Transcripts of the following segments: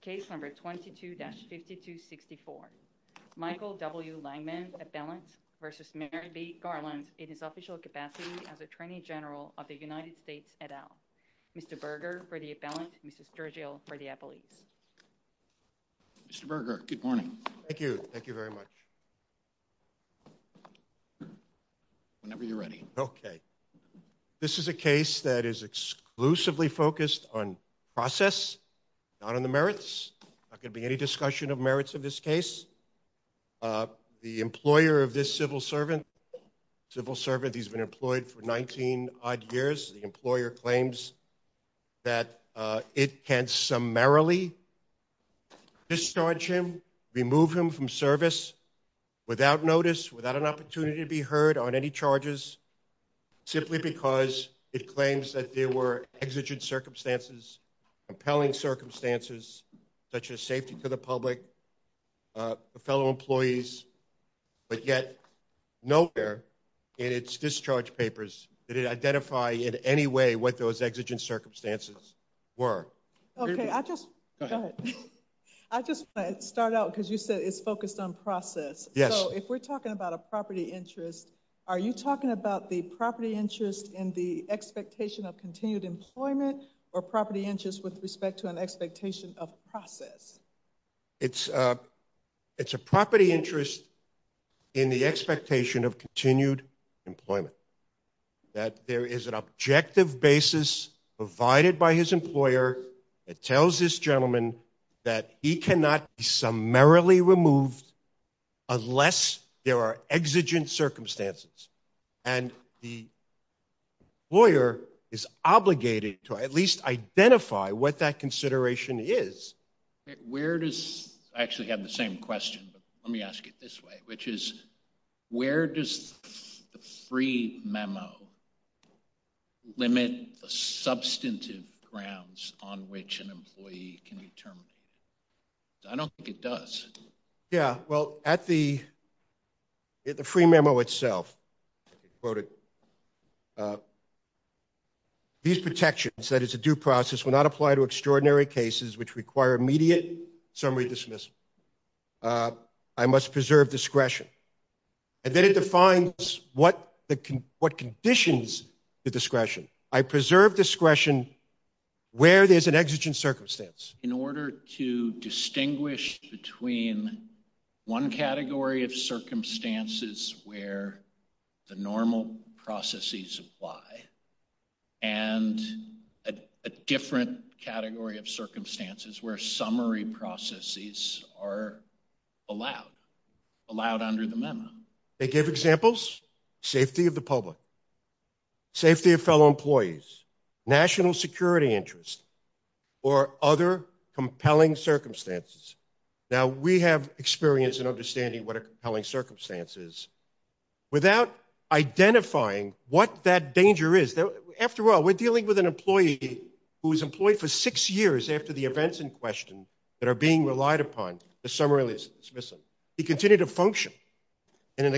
Case number 22-5264, Michael W. Langeman appellant versus Merrick B. Garland in his official capacity as Attorney General of the United States et al. Mr. Berger for the appellant, Mr. Sturgill for the appellate. Mr. Berger, good morning. Thank you, thank you very much. Whenever you're ready. Okay. This is a case that is exclusively focused on process, not on the merits. There's not going to be any discussion of merits in this case. The employer of this civil servant, civil servant, he's been employed for 19 odd years. The employer claims that it can summarily discharge him, remove him from service without notice, without an opportunity to be heard on any charges, simply because it claims that there were exigent circumstances, compelling circumstances, such as safety to the public, fellow employees. But yet, nowhere in its discharge papers did it identify in any way what those exigent circumstances were. Okay, I just, go ahead. I just want to start out because you said it's focused on process. Yes. So if we're talking about a property interest, are you talking about the property interest in the expectation of continued employment or property interest with respect to an expectation of process? It's a property interest in the expectation of continued employment. That there is an objective basis provided by his employer that tells this gentleman that he cannot be summarily removed unless there are exigent circumstances. And the lawyer is obligated to at least identify what that consideration is. Where does, I actually have the same question, but let me ask it this way, which is, where does the free memo limit the substantive grounds on which an employee can be terminated? I don't think it does. Yeah, well, at the, at the free memo itself, these protections that it's a due process will not apply to extraordinary cases which require immediate summary dismissal. I must preserve discretion. And then it defines what conditions the discretion. I preserve discretion where there's an exigent circumstance. In order to distinguish between one category of circumstances where the normal processes apply and a different category of circumstances where summary processes are allowed, allowed under the memo. They give examples, safety of the public, safety of fellow employees, national security interest, or other compelling circumstances. Now, we have experience in understanding what a compelling circumstance is without identifying what that danger is. After all, we're dealing with an employee who was employed for six years after the events in question that are being relied upon to summarily dismiss him. He continued to function in an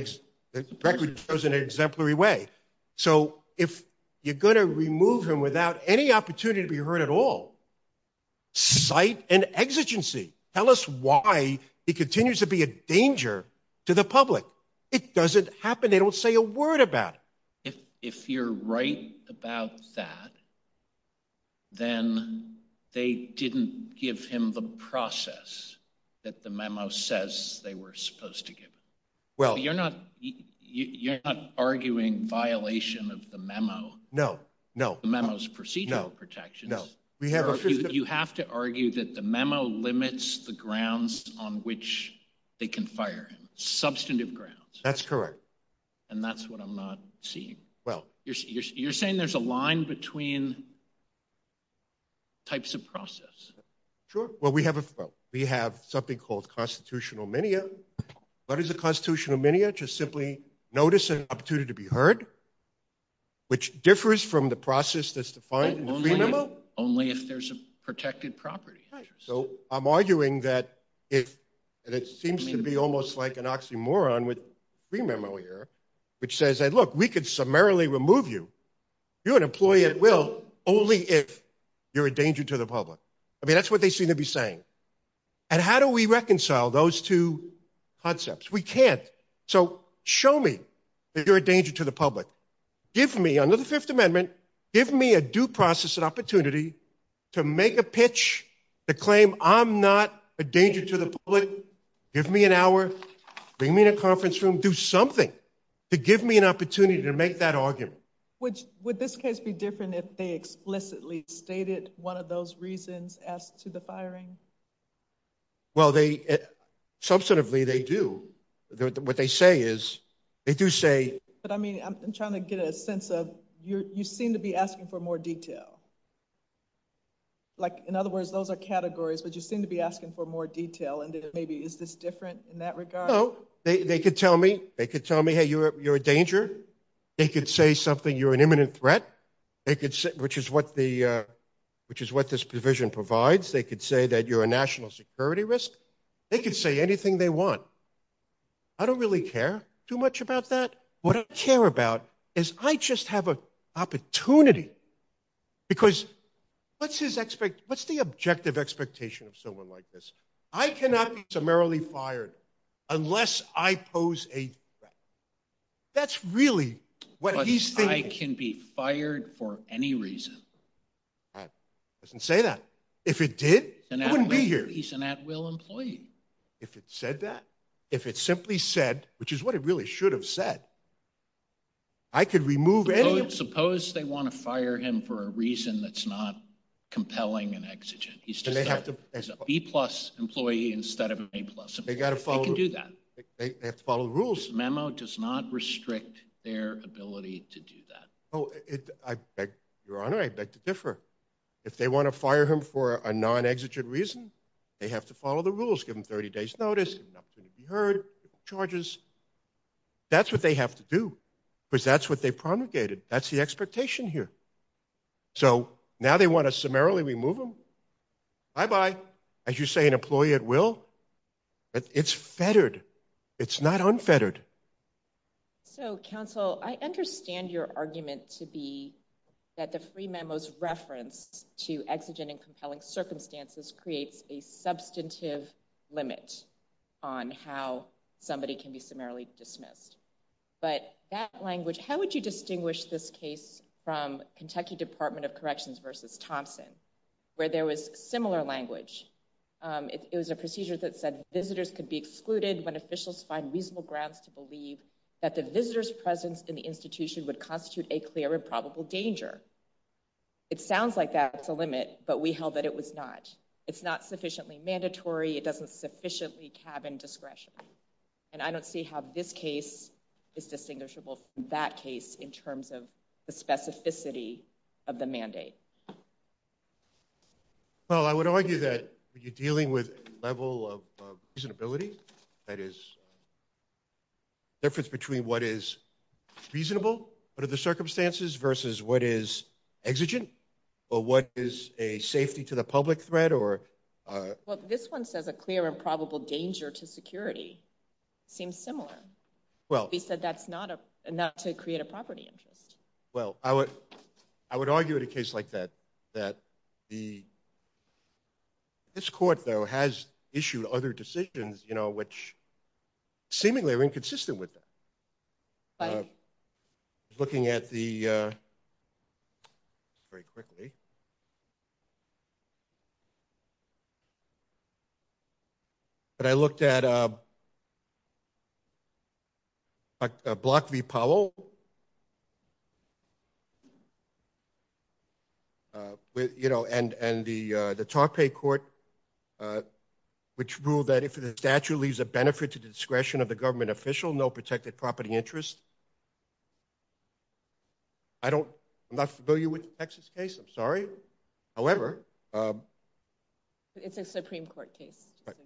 exemplary way. So, if you're going to remove him without any opportunity to be heard at all, cite an exigency. Tell us why he continues to be a danger to the public. It doesn't happen, they don't say a word about it. If you're right about that, then they didn't give him the process that the memo says they were supposed to give him. You're not arguing violation of the memo. No, no. The memo's procedural protections. No, no. You have to argue that the memo limits the grounds on which they can fire him, substantive grounds. That's correct. And that's what I'm not seeing. You're saying there's a line between types of process. Sure. Well, we have something called constitutional minia. What is a constitutional minia? Just simply notice an opportunity to be heard, which differs from the process that's defined in the free memo. Only if there's a protected property. So I'm arguing that it seems to be almost like an oxymoron with the free memo here, which says, look, we could summarily remove you. You're an employee at will only if you're a danger to the public. I mean, that's what they seem to be saying. And how do we reconcile those two concepts? We can't. So show me that you're a danger to the public. Give me another Fifth Amendment. Give me a due process, an opportunity to make a pitch to claim I'm not a danger to the public. Give me an hour. Bring me in a conference room. Do something to give me an opportunity to make that argument. Which would this case be different if they explicitly stated one of those reasons as to the firing? Well, they substantively they do. What they say is they do say. But, I mean, I'm trying to get a sense of you seem to be asking for more detail. Like, in other words, those are categories, but you seem to be asking for more detail. And maybe is this different in that regard? No. They could tell me, hey, you're a danger. They could say something, you're an imminent threat, which is what this provision provides. They could say that you're a national security risk. They could say anything they want. I don't really care too much about that. What I care about is I just have an opportunity. Because what's the objective expectation of someone like this? I cannot be summarily fired unless I pose a threat. That's really what he's thinking. But I can be fired for any reason. It doesn't say that. If it did, I wouldn't be here. He's an at-will employee. If it said that, if it simply said, which is what it really should have said, I could remove any of them. Suppose they want to fire him for a reason that's not compelling and exigent. He's a B-plus employee instead of an A-plus employee. They can do that. They have to follow the rules. The memo does not restrict their ability to do that. Your Honor, I beg to differ. If they want to fire him for a non-exigent reason, they have to follow the rules. Give him 30 days' notice, give him an opportunity to be heard, give him charges. That's what they have to do because that's what they promulgated. That's the expectation here. So now they want to summarily remove him? Bye-bye. As you say, an employee at will? It's fettered. It's not unfettered. So, counsel, I understand your argument to be that the free memo's reference to exigent and compelling circumstances creates a substantive limit on how somebody can be summarily dismissed. But that language, how would you distinguish this case from Kentucky Department of Corrections v. Thompson, where there was similar language? It was a procedure that said visitors could be excluded when officials find reasonable grounds to believe that the visitor's presence in the institution would constitute a clear and probable danger. It sounds like that's a limit, but we held that it was not. It's not sufficiently mandatory. It doesn't sufficiently cabin discretion. And I don't see how this case is distinguishable from that case in terms of the specificity of the mandate. Well, I would argue that when you're dealing with a level of reasonability, that is, the difference between what is reasonable under the circumstances versus what is exigent or what is a safety to the public threat or... Well, this one says a clear and probable danger to security. It seems similar. Well... We said that's not to create a property interest. Well, I would argue in a case like that, that the... This court, though, has issued other decisions, you know, which seemingly are inconsistent with that. Looking at the... Very quickly. Very quickly. But I looked at... Block v. Powell. You know, and the tar pay court, which ruled that if the statute leaves a benefit to the discretion of the government official, no protected property interest. I'm not familiar with the Texas case. I'm sorry. However... It's a Supreme Court case. Okay.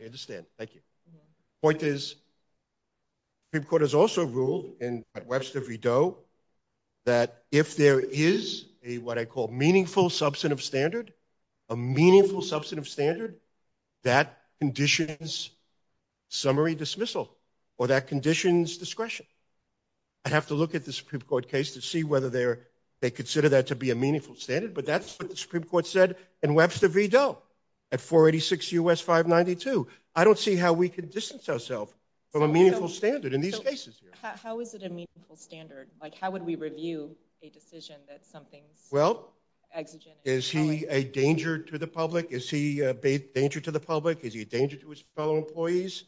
I understand. Thank you. The point is, the Supreme Court has also ruled in Webster v. Doe that if there is a, what I call, meaningful substantive standard, a meaningful substantive standard, that conditions summary dismissal or that conditions discretion. I'd have to look at the Supreme Court case to see whether they consider that to be a meaningful standard, but that's what the Supreme Court said in Webster v. Doe at 486 U.S. 592. I don't see how we can distance ourselves from a meaningful standard in these cases here. How is it a meaningful standard? Like, how would we review a decision that something's... Well, is he a danger to the public? Is he a danger to the public? Is he a danger to his fellow employees?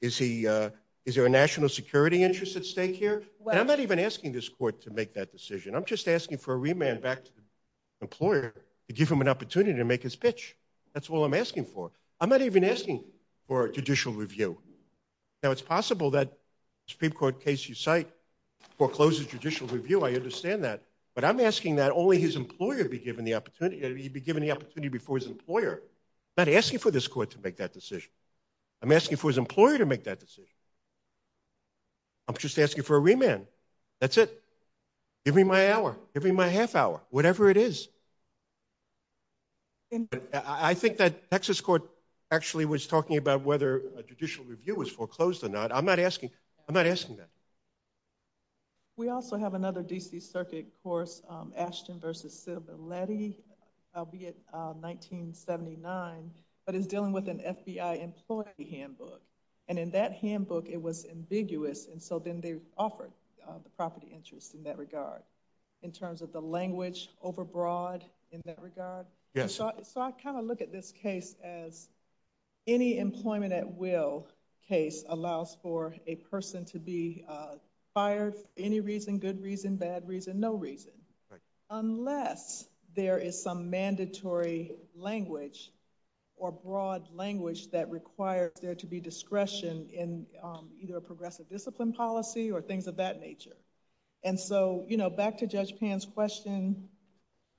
Is there a national security interest at stake here? And I'm not even asking this court to make that decision. I'm just asking for a remand back to the employer to give him an opportunity to make his pitch. That's all I'm asking for. I'm not even asking for judicial review. Now, it's possible that the Supreme Court case you cite forecloses judicial review. I understand that. But I'm asking that only his employer be given the opportunity, be given the opportunity before his employer. I'm not asking for this court to make that decision. I'm asking for his employer to make that decision. I'm just asking for a remand. That's it. Give me my hour. Give me my half hour, whatever it is. I think that Texas court actually was talking about whether a judicial review was foreclosed or not. I'm not asking that. We also have another D.C. Circuit course, Ashton v. Silberleti, albeit 1979, but it's dealing with an FBI employee handbook. And in that handbook, it was ambiguous, and so then they offered the property interest in that regard. In terms of the language overbroad in that regard? Yes. So I kind of look at this case as any employment at will case allows for a person to be fired for any reason, good reason, bad reason, no reason, unless there is some mandatory language or broad language that requires there to be discretion in either a progressive discipline policy or things of that nature. And so, you know, back to Judge Pan's question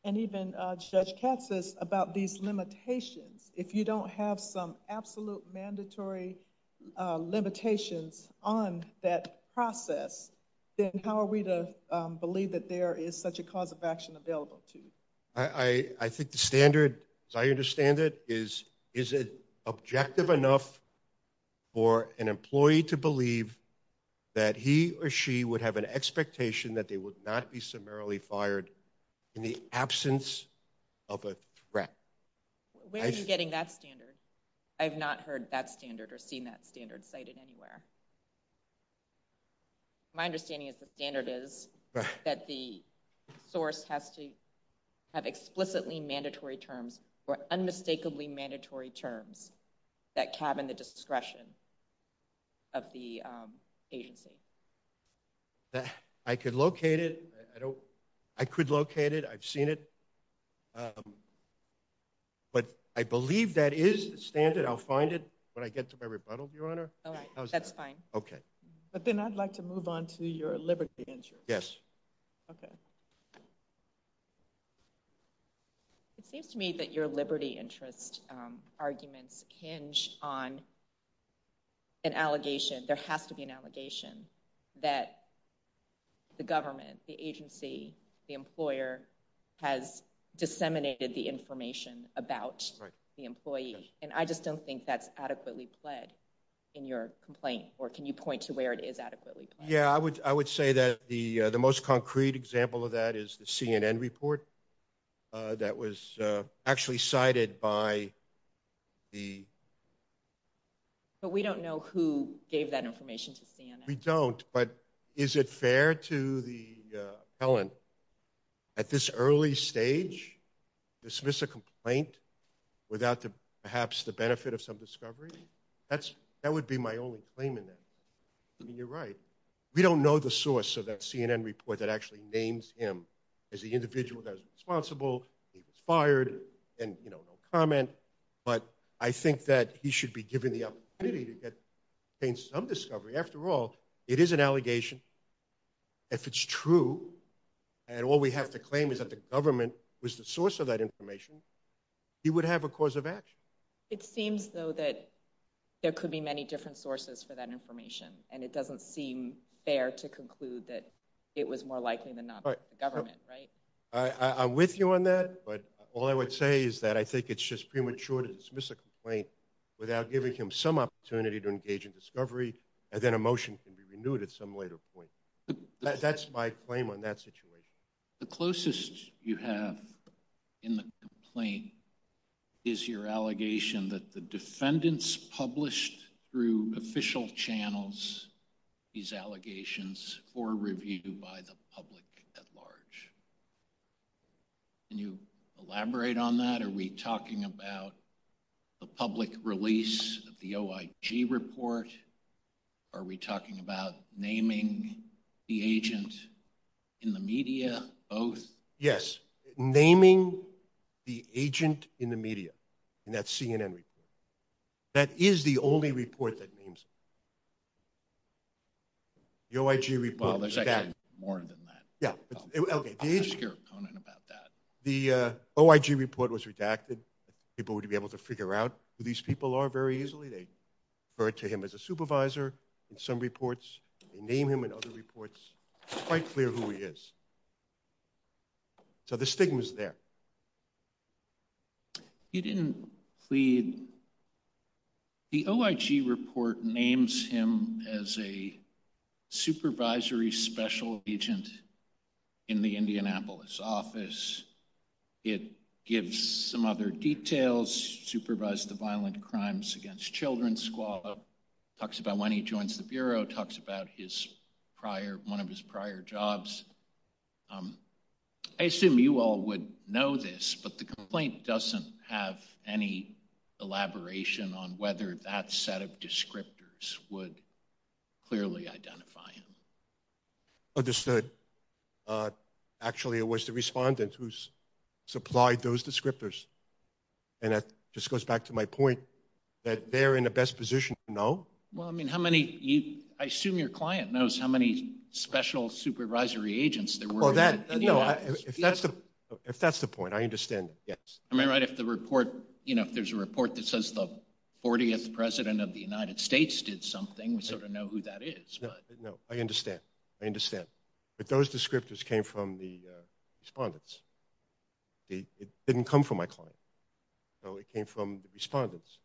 and even Judge Katz's about these limitations. If you don't have some absolute mandatory limitations on that process, then how are we to believe that there is such a cause of action available to you? I think the standard, as I understand it, is is it objective enough for an employee to believe that he or she would have an expectation that they would not be summarily fired in the absence of a threat? Where are you getting that standard? I have not heard that standard or seen that standard cited anywhere. My understanding is the standard is that the source has to have explicitly mandatory terms or unmistakably mandatory terms that cabin the discretion of the agency. I could locate it. I could locate it. I've seen it. But I believe that is standard. I'll find it when I get to my rebuttal, Your Honor. That's fine. Okay. But then I'd like to move on to your liberty interest. Yes. Okay. It seems to me that your liberty interest arguments hinge on an allegation. There has to be an allegation that the government, the agency, the employer has disseminated the information about the employee. And I just don't think that's adequately pled in your complaint. Or can you point to where it is adequately pled? Yeah, I would say that the most concrete example of that is the CNN report that was actually cited by the – But we don't know who gave that information to CNN. We don't. But is it fair to the appellant at this early stage dismiss a complaint without perhaps the benefit of some discovery? That would be my only claim in that. I mean, you're right. We don't know the source of that CNN report that actually names him as the individual that was responsible. He was fired and, you know, no comment. But I think that he should be given the opportunity to obtain some discovery. After all, it is an allegation. If it's true and all we have to claim is that the government was the source of that information, he would have a cause of action. It seems, though, that there could be many different sources for that information, and it doesn't seem fair to conclude that it was more likely than not the government, right? I'm with you on that. But all I would say is that I think it's just premature to dismiss a complaint without giving him some opportunity to engage in discovery, and then a motion can be renewed at some later point. That's my claim on that situation. The closest you have in the complaint is your allegation that the defendants published through official channels these allegations for review by the public at large. Can you elaborate on that? Are we talking about the public release of the OIG report? Are we talking about naming the agent in the media, both? Yes. Naming the agent in the media in that CNN report. That is the only report that names him. The OIG report is that. Well, there's actually more than that. I'm not a scare opponent about that. The OIG report was redacted. People would be able to figure out who these people are very easily. They refer to him as a supervisor in some reports. They name him in other reports. It's quite clear who he is. So the stigma is there. You didn't plead. The OIG report names him as a supervisory special agent in the Indianapolis office. It gives some other details. Supervised the violent crimes against children. Talks about when he joins the Bureau. Talks about one of his prior jobs. I assume you all would know this, but the complaint doesn't have any elaboration on whether that set of descriptors would clearly identify him. Understood. Actually, it was the respondent who supplied those descriptors. And that just goes back to my point that they're in the best position to know. I assume your client knows how many special supervisory agents there were in the office. If that's the point, I understand. If there's a report that says the 40th President of the United States did something, we sort of know who that is. I understand. But those descriptors came from the respondents. It didn't come from my client. It came from the respondents.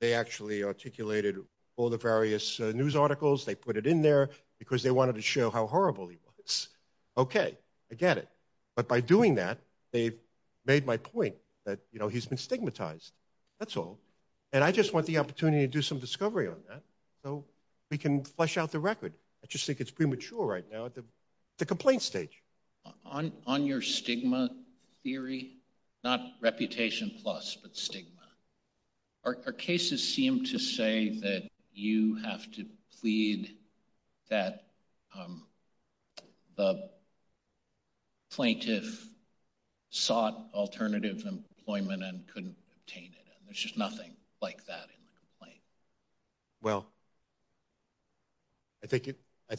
They actually articulated all the various news articles. They put it in there because they wanted to show how horrible he was. Okay, I get it. But by doing that, they've made my point that he's been stigmatized. That's all. And I just want the opportunity to do some discovery on that so we can flesh out the record. I just think it's premature right now at the complaint stage. On your stigma theory, not reputation plus, but stigma, our cases seem to say that you have to plead that the plaintiff sought alternative employment and couldn't obtain it. There's just nothing like that in the complaint. Well, I think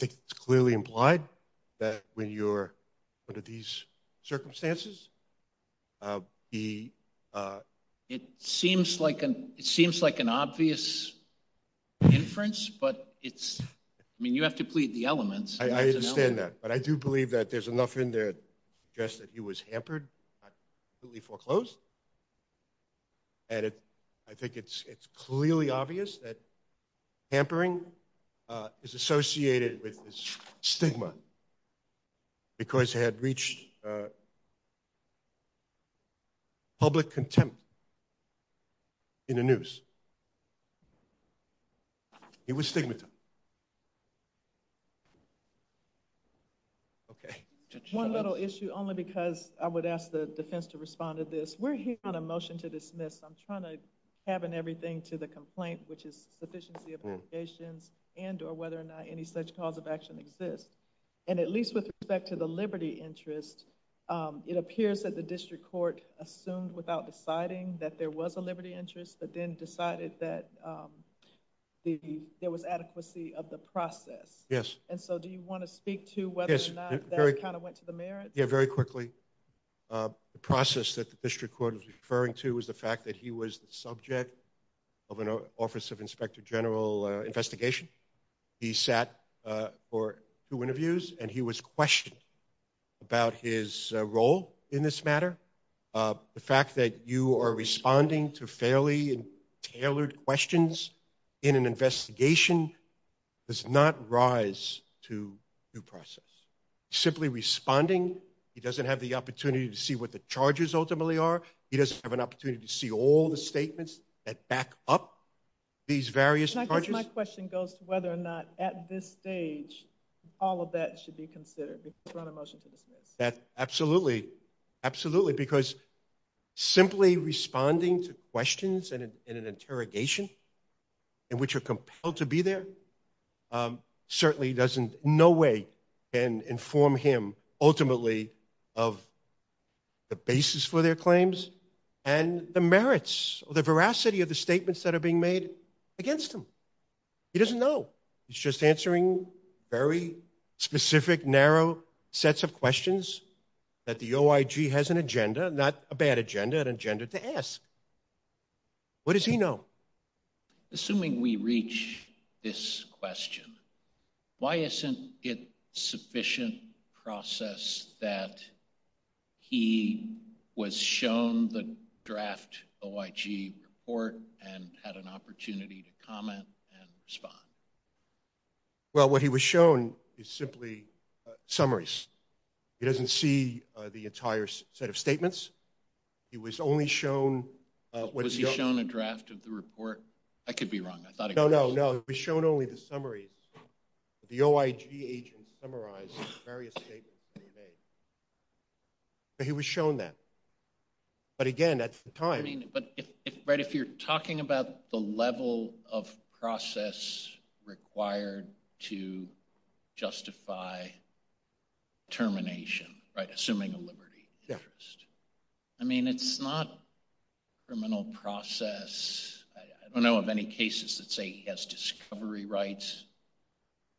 it's clearly implied that when you're under these circumstances. It seems like an obvious inference, but you have to plead the elements. I understand that. But I do believe that there's enough in there to suggest that he was hampered, not completely foreclosed. And I think it's clearly obvious that hampering is associated with stigma because he had reached public contempt in the news. He was stigmatized. Okay. One little issue, only because I would ask the defense to respond to this. We're hearing a motion to dismiss. I'm trying to tab in everything to the complaint, which is sufficiency of applications and or whether or not any such cause of action exists. And at least with respect to the liberty interest, it appears that the district court assumed without deciding that there was a liberty interest, but then decided that there was adequacy of the process. Yes. And so do you want to speak to whether or not that kind of went to the merits? Yes, very quickly. The process that the district court was referring to was the fact that he was the subject of an Office of Inspector General investigation. He sat for two interviews, and he was questioned about his role in this matter. The fact that you are responding to fairly tailored questions in an investigation does not rise to due process. He's simply responding. He doesn't have the opportunity to see what the charges ultimately are. He doesn't have an opportunity to see all the statements that back up these various charges. My question goes to whether or not at this stage all of that should be considered. Absolutely. Absolutely. Because simply responding to questions in an interrogation in which you're compelled to be there certainly doesn't in no way inform him ultimately of the basis for their claims and the merits or the veracity of the statements that are being made against him. He doesn't know. He's just answering very specific, narrow sets of questions that the OIG has an agenda, not a bad agenda, an agenda to ask. What does he know? Assuming we reach this question, why isn't it sufficient process that he was shown the draft OIG report and had an opportunity to comment and respond? Well, what he was shown is simply summaries. He doesn't see the entire set of statements. He was only shown what is known. Was he shown a draft of the report? I could be wrong. No, no, no. He was shown only the summaries. The OIG agents summarized the various statements that he made. But he was shown that. But, again, that's the time. But if you're talking about the level of process required to justify termination, assuming a liberty interest, I mean, it's not a criminal process. I don't know of any cases that say he has discovery rights.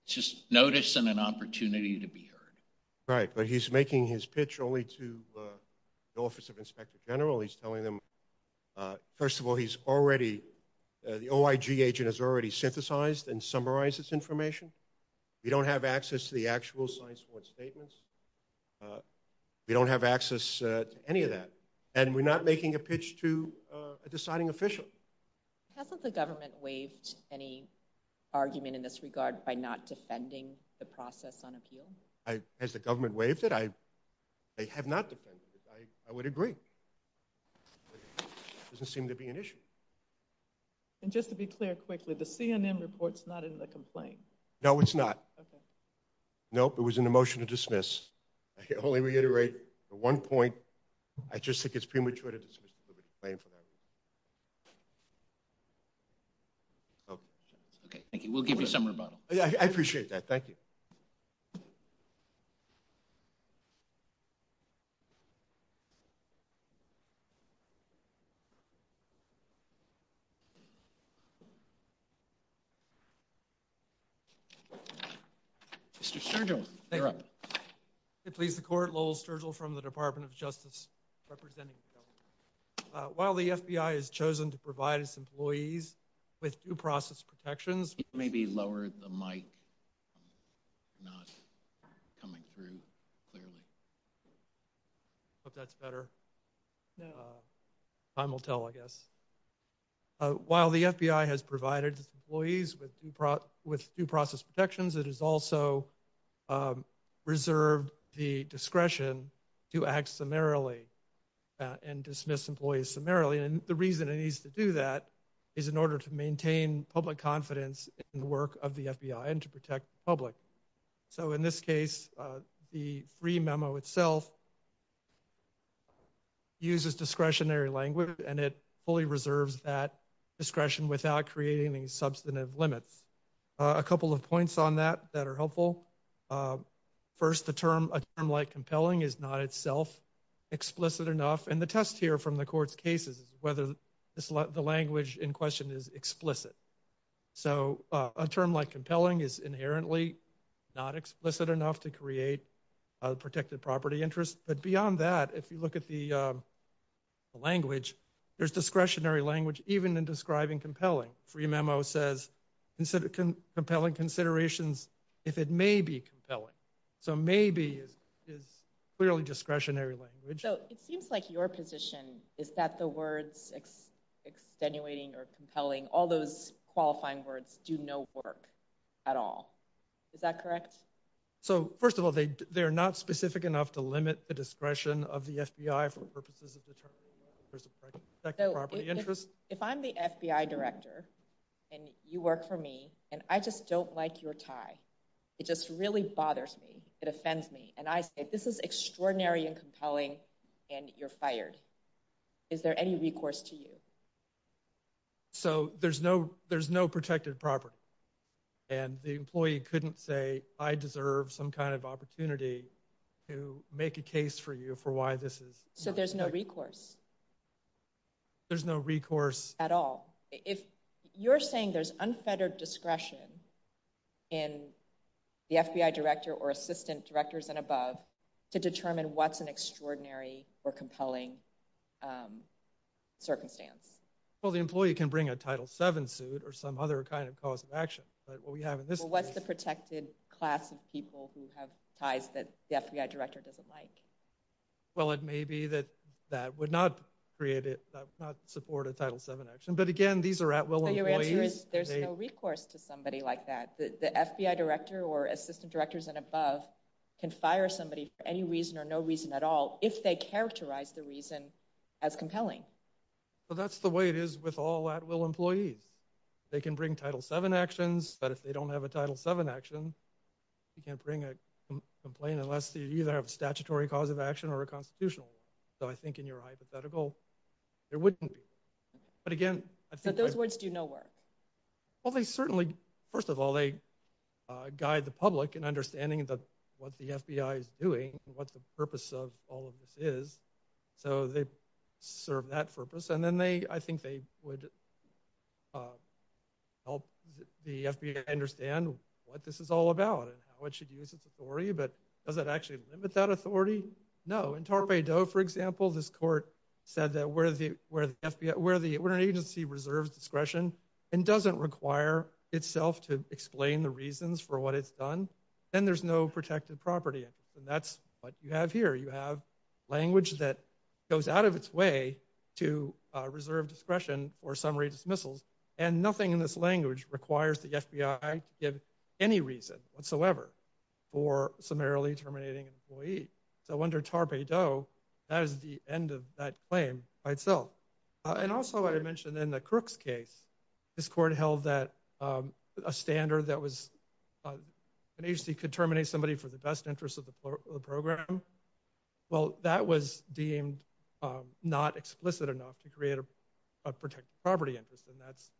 It's just notice and an opportunity to be heard. Right, but he's making his pitch only to the Office of Inspector General. He's telling them, first of all, he's already, the OIG agent has already synthesized and summarized this information. We don't have access to the actual science board statements. We don't have access to any of that. And we're not making a pitch to a deciding official. Hasn't the government waived any argument in this regard by not defending the process on appeal? Has the government waived it? They have not defended it. I would agree. It doesn't seem to be an issue. And just to be clear, quickly, the CNN report's not in the complaint. No, it's not. Nope, it was in the motion to dismiss. I can only reiterate the one point. I just think it's premature to dismiss the liberty claim for that reason. Okay, thank you. We'll give you some rebuttal. I appreciate that. Thank you. Mr. Sturgill, you're up. Please, the court, Lowell Sturgill from the Department of Justice, representing the government. While the FBI has chosen to provide its employees with due process protections... Maybe lower the mic. Not coming through clearly. I hope that's better. Time will tell, I guess. While the FBI has provided its employees with due process protections, it has also reserved the discretion to act summarily and dismiss employees summarily. And the reason it needs to do that is in order to maintain public confidence in the work of the FBI and to protect the public. So in this case, the free memo itself uses discretionary language, and it fully reserves that discretion without creating any substantive limits. A couple of points on that that are helpful. First, a term like compelling is not itself explicit enough. And the test here from the court's case is whether the language in question is explicit. So a term like compelling is inherently not explicit enough to create a protected property interest. But beyond that, if you look at the language, there's discretionary language even in describing compelling. Free memo says compelling considerations if it may be compelling. So maybe is clearly discretionary language. So it seems like your position is that the words extenuating or compelling, all those qualifying words, do no work at all. Is that correct? So first of all, they're not specific enough to limit the discretion of the FBI for purposes of determining whether there's a protected property interest. If I'm the FBI director and you work for me and I just don't like your tie, it just really bothers me, it offends me, and I say this is extraordinary and compelling and you're fired, is there any recourse to you? So there's no protected property. And the employee couldn't say, I deserve some kind of opportunity to make a case for you for why this is. So there's no recourse. There's no recourse. At all. If you're saying there's unfettered discretion in the FBI director or assistant directors and above to determine what's an extraordinary or compelling circumstance. Well, the employee can bring a Title VII suit or some other kind of cause of action. But what we have in this case... What's the protected class of people who have ties that the FBI director doesn't like? Well, it may be that that would not create it, that would not support a Title VII action. But again, these are at-will employees. So your answer is there's no recourse to somebody like that. The FBI director or assistant directors and above can fire somebody for any reason or no reason at all if they characterize the reason as compelling. Well, that's the way it is with all at-will employees. They can bring Title VII actions, but if they don't have a Title VII action, you can't bring a complaint unless you either have a statutory cause of action or a constitutional one. So I think in your hypothetical, there wouldn't be. But again... So those words do no work. Well, they certainly... First of all, they guide the public in understanding what the FBI is doing, what the purpose of all of this is. So they serve that purpose. And then I think they would help the FBI understand what this is all about and how it should use its authority. But does it actually limit that authority? No. In Torpey Doe, for example, this court said that where an agency reserves discretion and doesn't require itself to explain the reasons for what it's done, then there's no protected property. And that's what you have here. You have language that goes out of its way to reserve discretion or summary dismissals. And nothing in this language requires the FBI to give any reason whatsoever for summarily terminating an employee. So under Torpey Doe, that is the end of that claim by itself. And also I mentioned in the Crooks case, this court held that a standard that was... An agency could terminate somebody for the best interest of the program. Well, that was deemed not explicit enough to create a protected property interest. And that's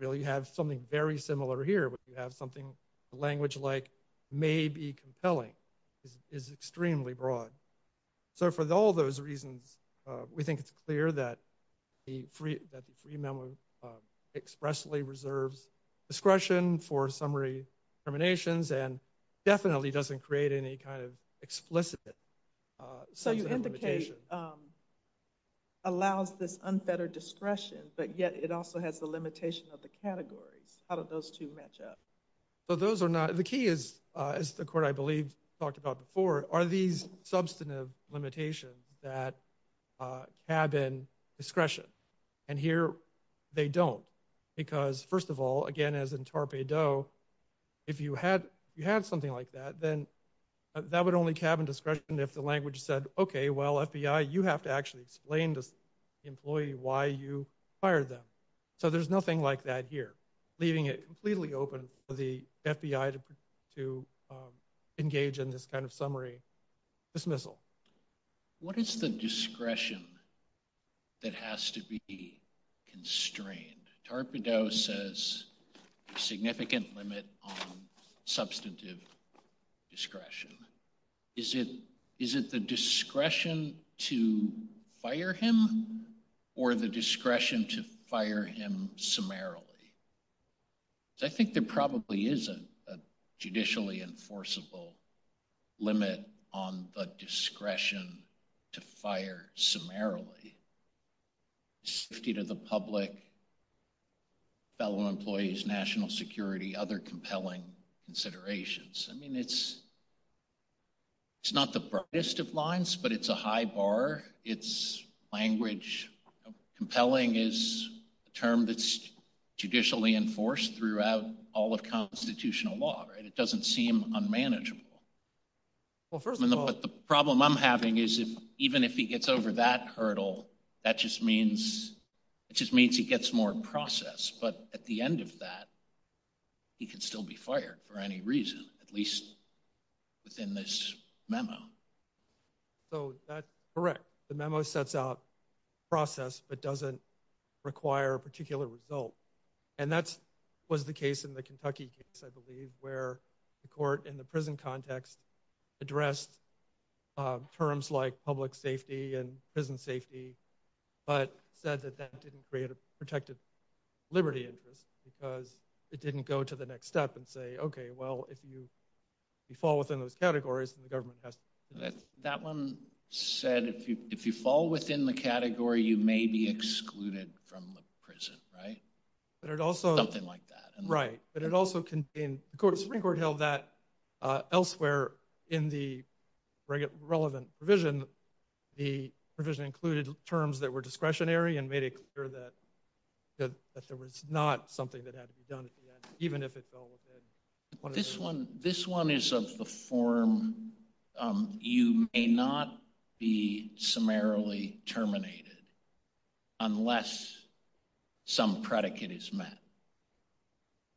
really you have something very similar here where you have something language-like may be compelling is extremely broad. So for all those reasons, we think it's clear that the free memo expressly reserves discretion for summary terminations and definitely doesn't create any kind of explicit... So you indicate allows this unfettered discretion, but yet it also has the limitation of the categories. How do those two match up? So those are not... The key is, as the court, I believe, talked about before, are these substantive limitations that cabin discretion? And here they don't. Because first of all, again, as in Torpey Doe, if you had something like that, then that would only cabin discretion if the language said, okay, well, FBI, you have to actually explain to the employee why you fired them. So there's nothing like that here, leaving it completely open for the FBI to engage in this kind of summary dismissal. What is the discretion that has to be constrained? Torpey Doe says a significant limit on substantive discretion. Is it the discretion to fire him or the discretion to fire him summarily? Because I think there probably is a judicially enforceable limit on the discretion to fire summarily. Safety to the public, fellow employees, national security, other compelling considerations. I mean, it's not the brightest of lines, but it's a high bar. It's language. Compelling is a term that's judicially enforced throughout all of constitutional law, right? It doesn't seem unmanageable. But the problem I'm having is, even if he gets over that hurdle, that just means he gets more process. But at the end of that, he can still be fired for any reason, at least within this memo. So that's correct. The memo sets out process but doesn't require a particular result. And that was the case in the Kentucky case, I believe, where the court in the prison context addressed terms like public safety and prison safety but said that that didn't create a protected liberty interest because it didn't go to the next step and say, OK, well, if you fall within those categories, then the government has to... That one said, if you fall within the category, you may be excluded from the prison, right? Something like that. Right, but it also contained... The Supreme Court held that elsewhere in the relevant provision. The provision included terms that were discretionary and made it clear that there was not something that had to be done even if it fell within... This one is of the form, you may not be summarily terminated unless some predicate is met.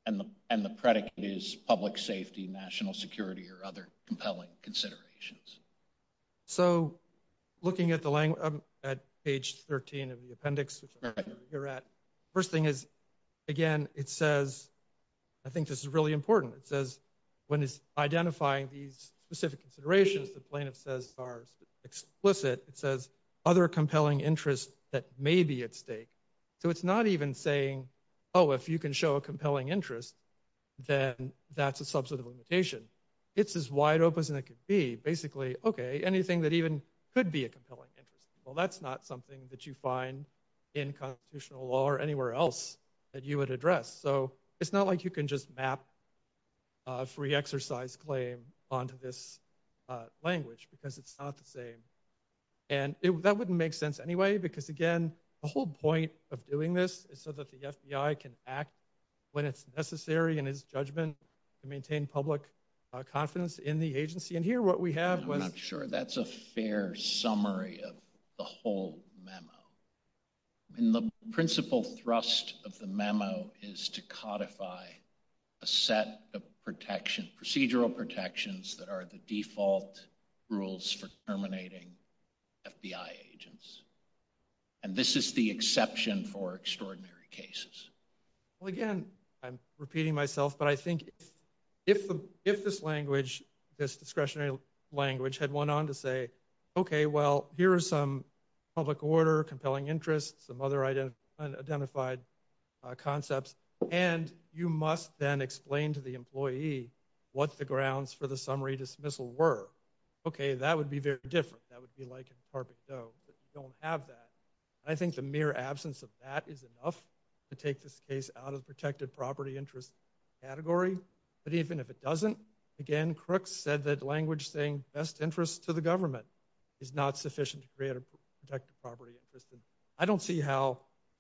And the predicate is public safety, national security or other compelling considerations. So, looking at page 13 of the appendix, which I'm sure you're at, first thing is, again, it says... I think this is really important. It says when it's identifying these specific considerations, the plaintiff says are explicit. It says other compelling interests that may be at stake. So it's not even saying, oh, if you can show a compelling interest, then that's a substantive limitation. It's as wide open as it could be. Basically, OK, anything that even could be a compelling interest, well, that's not something that you find in constitutional law or anywhere else that you would address. So it's not like you can just map a free exercise claim onto this language because it's not the same. And that wouldn't make sense anyway because, again, the whole point of doing this is so that the FBI can act when it's necessary in its judgment to maintain public confidence in the agency. And here what we have was... I'm not sure that's a fair summary of the whole memo. I mean, the principal thrust of the memo is to codify a set of procedural protections that are the default rules for terminating FBI agents. And this is the exception for extraordinary cases. Well, again, I'm repeating myself, but I think if this language, this discretionary language, had went on to say, OK, well, here are some public order, compelling interests, some other identified concepts, and you must then explain to the employee what the grounds for the summary dismissal were, OK, that would be very different. That would be like a carpeted dove, but you don't have that. And I think the mere absence of that is enough to take this case out of the protected property interest category. But even if it doesn't, again, Crooks said that language saying best interests to the government is not sufficient to create a protected property interest. And I don't see how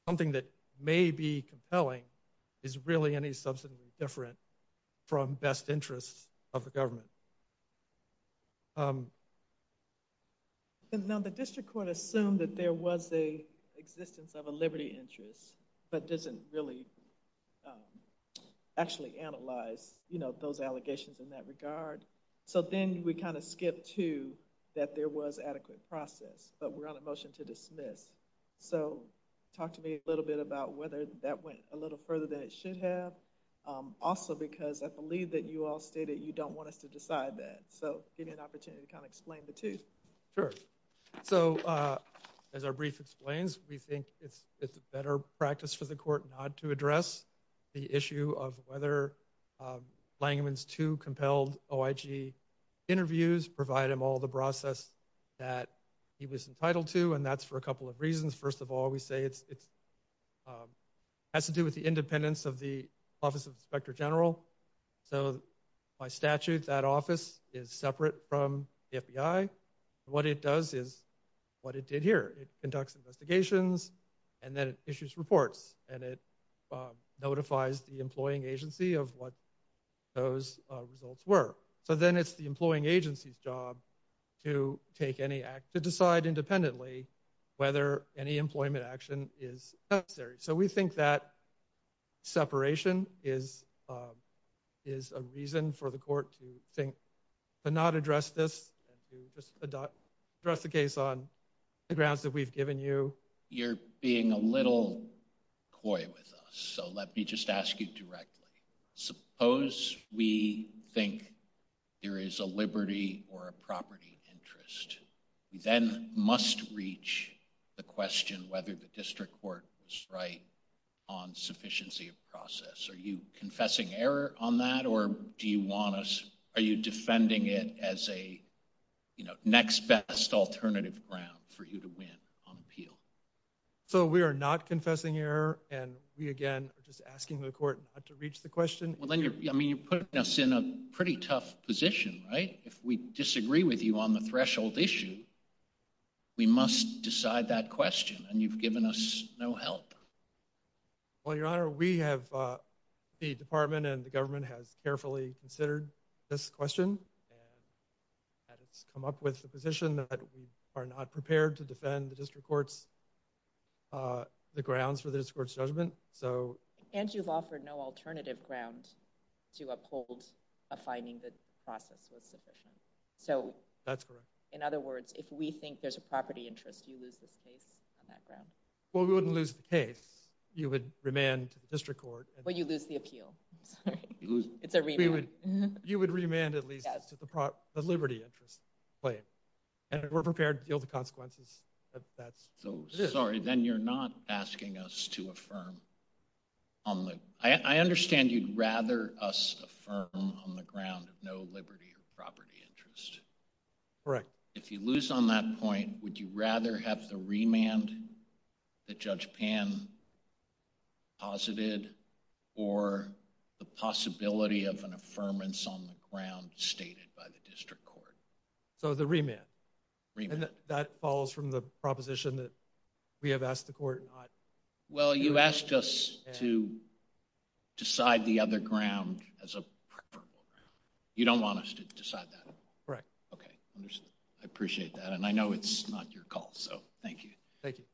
something that may be compelling is really any substantially different from best interests of the government. Now, the district court assumed that there was an existence of a liberty interest, but doesn't really actually analyze, you know, those allegations in that regard. So then we kind of skipped to that there was adequate process, but we're on a motion to dismiss. So talk to me a little bit about whether that went a little further than it should have. Also, because I believe that you all stated you don't want us to decide that. So give me an opportunity to kind of explain the two. Sure. So as our brief explains, we think it's a better practice for the court not to address the issue of whether Langevin's two compelled OIG interviews provide him all the process that he was entitled to, and that's for a couple of reasons. First of all, we say it has to do with the independence of the Office of the Inspector General. So by statute, that office is separate from the FBI. What it does is what it did here. It conducts investigations, and then it issues reports, and it notifies the employing agency of what those results were. So then it's the employing agency's job to take any act, to decide independently whether any employment action is necessary. So we think that separation is a reason for the court to think to not address this and to just address the case on the grounds that we've given you. You're being a little coy with us, so let me just ask you directly. Suppose we think there is a liberty or a property interest. We then must reach the question whether the district court was right on sufficiency of process. Are you confessing error on that, or are you defending it as a next best alternative ground for you to win on appeal? So we are not confessing error, and we again are just asking the court not to reach the question. Well, then you're putting us in a pretty tough position, right? If we disagree with you on the threshold issue, we must decide that question, and you've given us no help. Well, Your Honor, we have the department and the government has carefully considered this question, and it's come up with the position that we are not prepared to defend the district court's grounds for the district court's judgment. And you've offered no alternative ground to uphold a finding that the process was sufficient. That's correct. So in other words, if we think there's a property interest, do you lose this case on that ground? Well, we wouldn't lose the case. You would remand to the district court. Well, you lose the appeal. It's a remand. You would remand at least to the liberty interest claim, and we're prepared to deal with the consequences of that. So, sorry, then you're not asking us to affirm on the ground. I understand you'd rather us affirm on the ground of no liberty or property interest. Correct. If you lose on that point, would you rather have the remand that Judge Pan posited or the possibility of an affirmance on the ground stated by the district court? So the remand. Remand. And that follows from the proposition that we have asked the court not to. Well, you asked us to decide the other ground as a preferable ground. You don't want us to decide that. Correct. Okay. I appreciate that, and I know it's not your call, so thank you. Thank you.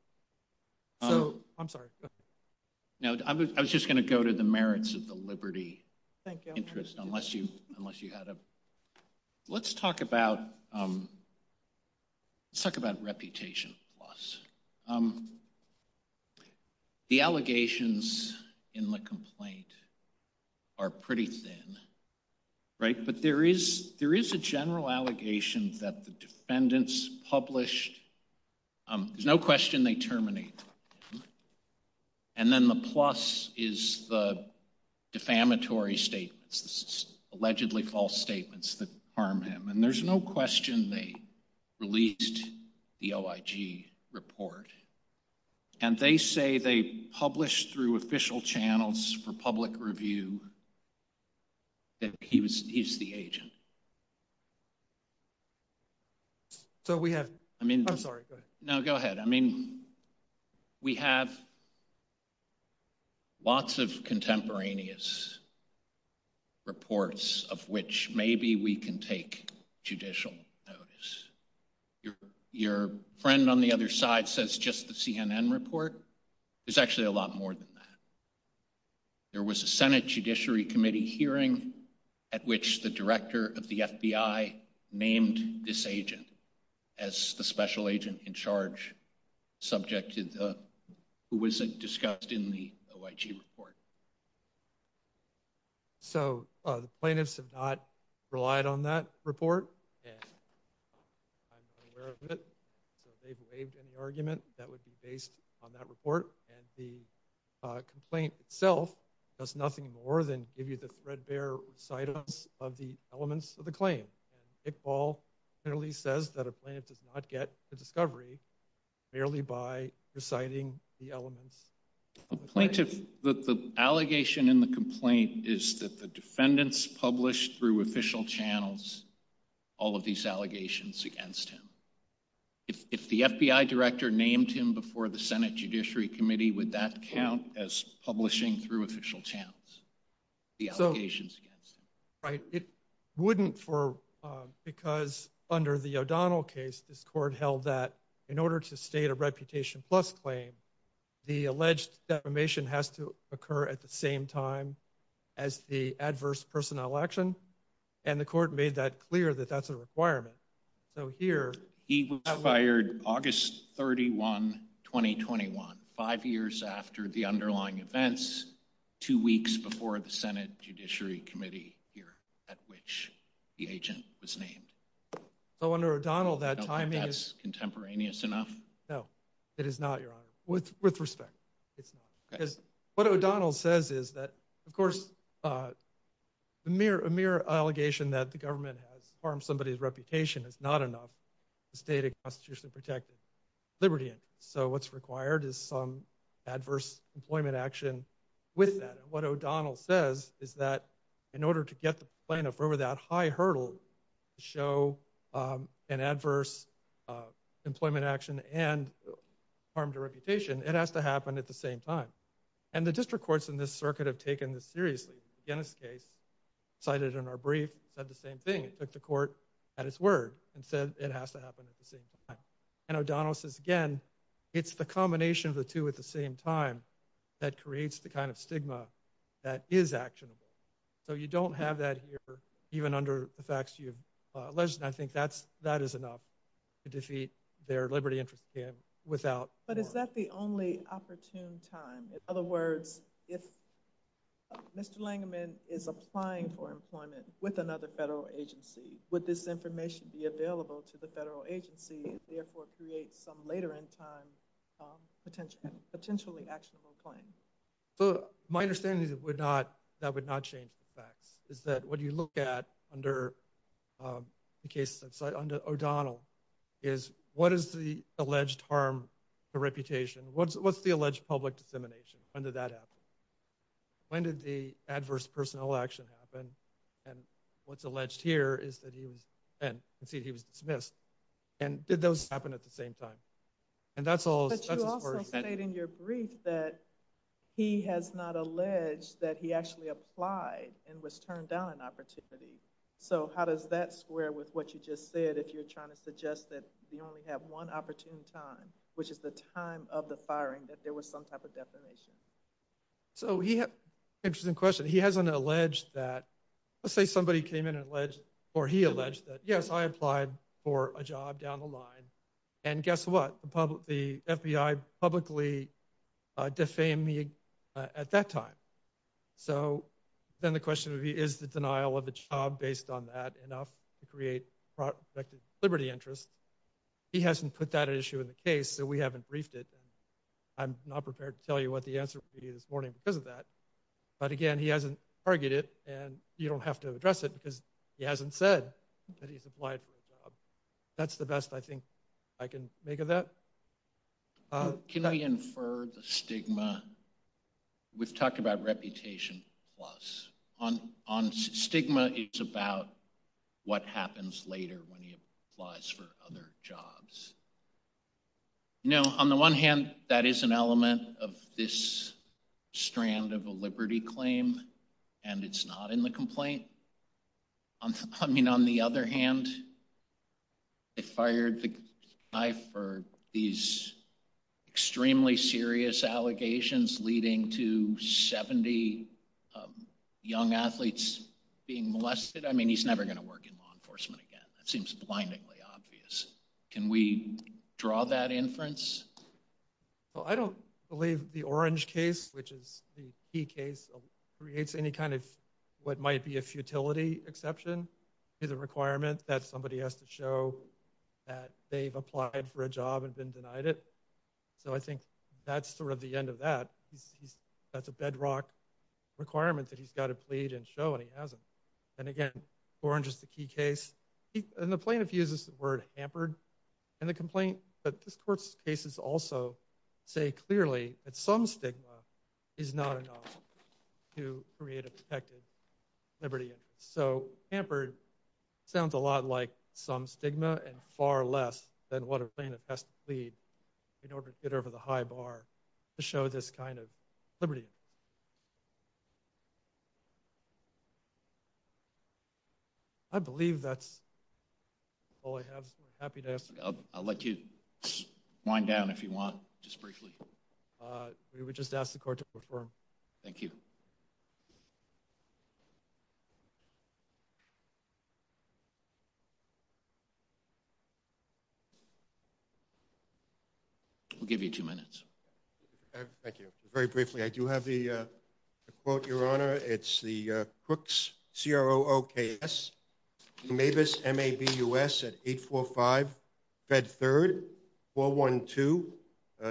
So, I'm sorry. No, I was just going to go to the merits of the liberty interest. Thank you. Unless you had a... Let's talk about reputation loss. The allegations in the complaint are pretty thin, right? But there is a general allegation that the defendants published. There's no question they terminated him. And then the plus is the defamatory statements, the allegedly false statements that harm him. And there's no question they released the OIG report. And they say they published through official channels for public review that he's the agent. So we have... I mean... I'm sorry. Go ahead. No, go ahead. I mean, we have lots of contemporaneous reports of which maybe we can take judicial notice. Your friend on the other side says just the CNN report. There's actually a lot more than that. There was a Senate Judiciary Committee hearing at which the director of the FBI named this agent as the special agent in charge subject to the... who was discussed in the OIG report. So the plaintiffs have not relied on that report. And I'm aware of it. So if they've waived any argument, that would be based on that report. And the complaint itself does nothing more than give you the threadbare recitals of the elements of the claim. And Iqbal clearly says that a plaintiff does not get the discovery merely by reciting the elements of the claim. The allegation in the complaint is that the defendants published through official channels all of these allegations against him. If the FBI director named him before the Senate Judiciary Committee, would that count as publishing through official channels the allegations against him? Right, it wouldn't for... because under the O'Donnell case, this court held that in order to state a Reputation Plus claim, the alleged defamation has to occur at the same time as the adverse personnel action. And the court made that clear that that's a requirement. So here... He was fired August 31, 2021, five years after the underlying events, two weeks before the Senate Judiciary Committee here at which the agent was named. So under O'Donnell, that timing is... You don't think that's contemporaneous enough? No, it is not, Your Honor, with respect. It's not. Because what O'Donnell says is that, of course, a mere allegation that the government has harmed somebody's reputation is not enough to state a constitutionally protected liberty. So what's required is some adverse employment action with that. And what O'Donnell says is that in order to get the plaintiff over that high hurdle to show an adverse employment action and harmed a reputation, it has to happen at the same time. And the district courts in this circuit have taken this seriously. In the Guinness case, cited in our brief, said the same thing. It took the court at its word and said it has to happen at the same time. And O'Donnell says, again, it's the combination of the two at the same time that creates the kind of stigma that is actionable. So you don't have that here, even under the facts you've alleged. And I think that is enough to defeat their liberty interest scam without... But is that the only opportune time? In other words, if Mr. Langevin is applying for employment with another federal agency, would this information be available to the federal agency and therefore create some later in time potentially actionable claim? My understanding is that would not change the facts, is that what you look at under O'Donnell is what is the alleged harm to reputation? What's the alleged public dissemination? When did that happen? When did the adverse personal action happen? And what's alleged here is that he was... And you can see he was dismissed. And did those happen at the same time? And that's all... But you also state in your brief that he has not alleged that he actually applied and was turned down an opportunity. So how does that square with what you just said if you're trying to suggest that you only have one opportune time, which is the time of the firing, that there was some type of defamation? So he had... Interesting question. He hasn't alleged that... Let's say somebody came in and alleged, or he alleged that, yes, I applied for a job down the line. And guess what? The FBI publicly defamed me at that time. So then the question would be, is the denial of a job based on that enough to create projected liberty interest? He hasn't put that issue in the case, so we haven't briefed it. I'm not prepared to tell you what the answer will be this morning because of that. But again, he hasn't targeted it, and you don't have to address it because he hasn't said that he's applied for a job. That's the best I think I can make of that. Can we infer the stigma? We've talked about reputation plus. On stigma, it's about what happens later when he applies for other jobs. No, on the one hand, that is an element of this strand of a liberty claim, and it's not in the complaint. I mean, on the other hand, they fired the guy for these extremely serious allegations leading to 70 young athletes being molested. I mean, he's never going to work in law enforcement again. That seems blindingly obvious. Can we draw that inference? Well, I don't believe the Orange case, which is the key case, creates any kind of what might be a futility exception to the requirement that somebody has to show that they've applied for a job and been denied it. So I think that's sort of the end of that. That's a bedrock requirement that he's got to plead and show, and he hasn't. And again, Orange is the key case. And the plaintiff uses the word hampered in the complaint, but this court's cases also say clearly that some stigma is not enough to create a protected liberty. So hampered sounds a lot like some stigma and far less than what a plaintiff has to plead in order to get over the high bar to show this kind of liberty. I believe that's all I have, so I'm happy to ask... I'll let you wind down if you want, just briefly. We would just ask the court to confirm. Thank you. We'll give you two minutes. Thank you. Very briefly, I do have a quote, Your Honor. It's the Crooks, C-R-O-O-K-S, from Mabus, M-A-B-U-S, at 845 Fed 3rd, 412.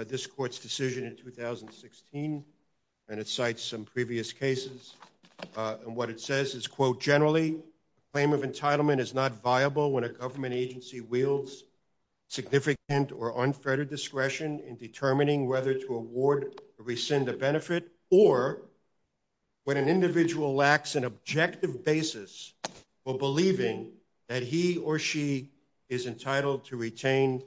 This court's decision in 2016, and it cites some previous cases. And what it says is, quote, generally, a claim of entitlement is not viable when a government agency wields significant or unfair discretion in determining whether to award or rescind a benefit or when an individual lacks an objective basis for believing that he or she is entitled to retain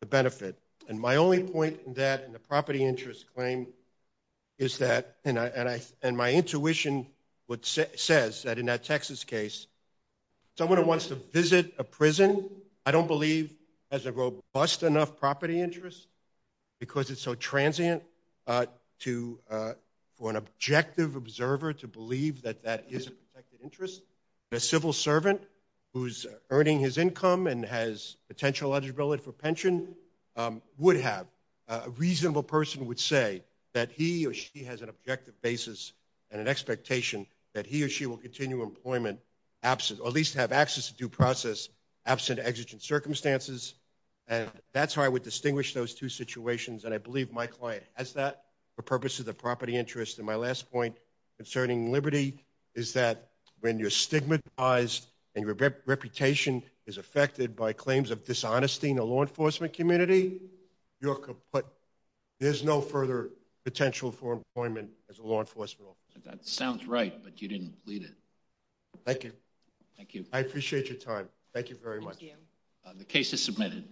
the benefit. And my only point in that in the property interest claim is that, and my intuition says that in that Texas case, someone who wants to visit a prison, I don't believe has a robust enough property interest because it's so transient for an objective observer to believe that that is a protected interest. A civil servant who's earning his income and has potential eligibility for pension would have. A reasonable person would say that he or she has an objective basis and an expectation that he or she will continue employment, or at least have access to due process, absent exigent circumstances. And that's how I would distinguish those two situations, and I believe my client has that for purposes of property interest. And my last point concerning liberty is that when you're stigmatized and your reputation is affected by claims of dishonesty in the law enforcement community, there's no further potential for employment as a law enforcement officer. That sounds right, but you didn't plead it. Thank you. Thank you. I appreciate your time. Thank you very much. Thank you. The case is submitted.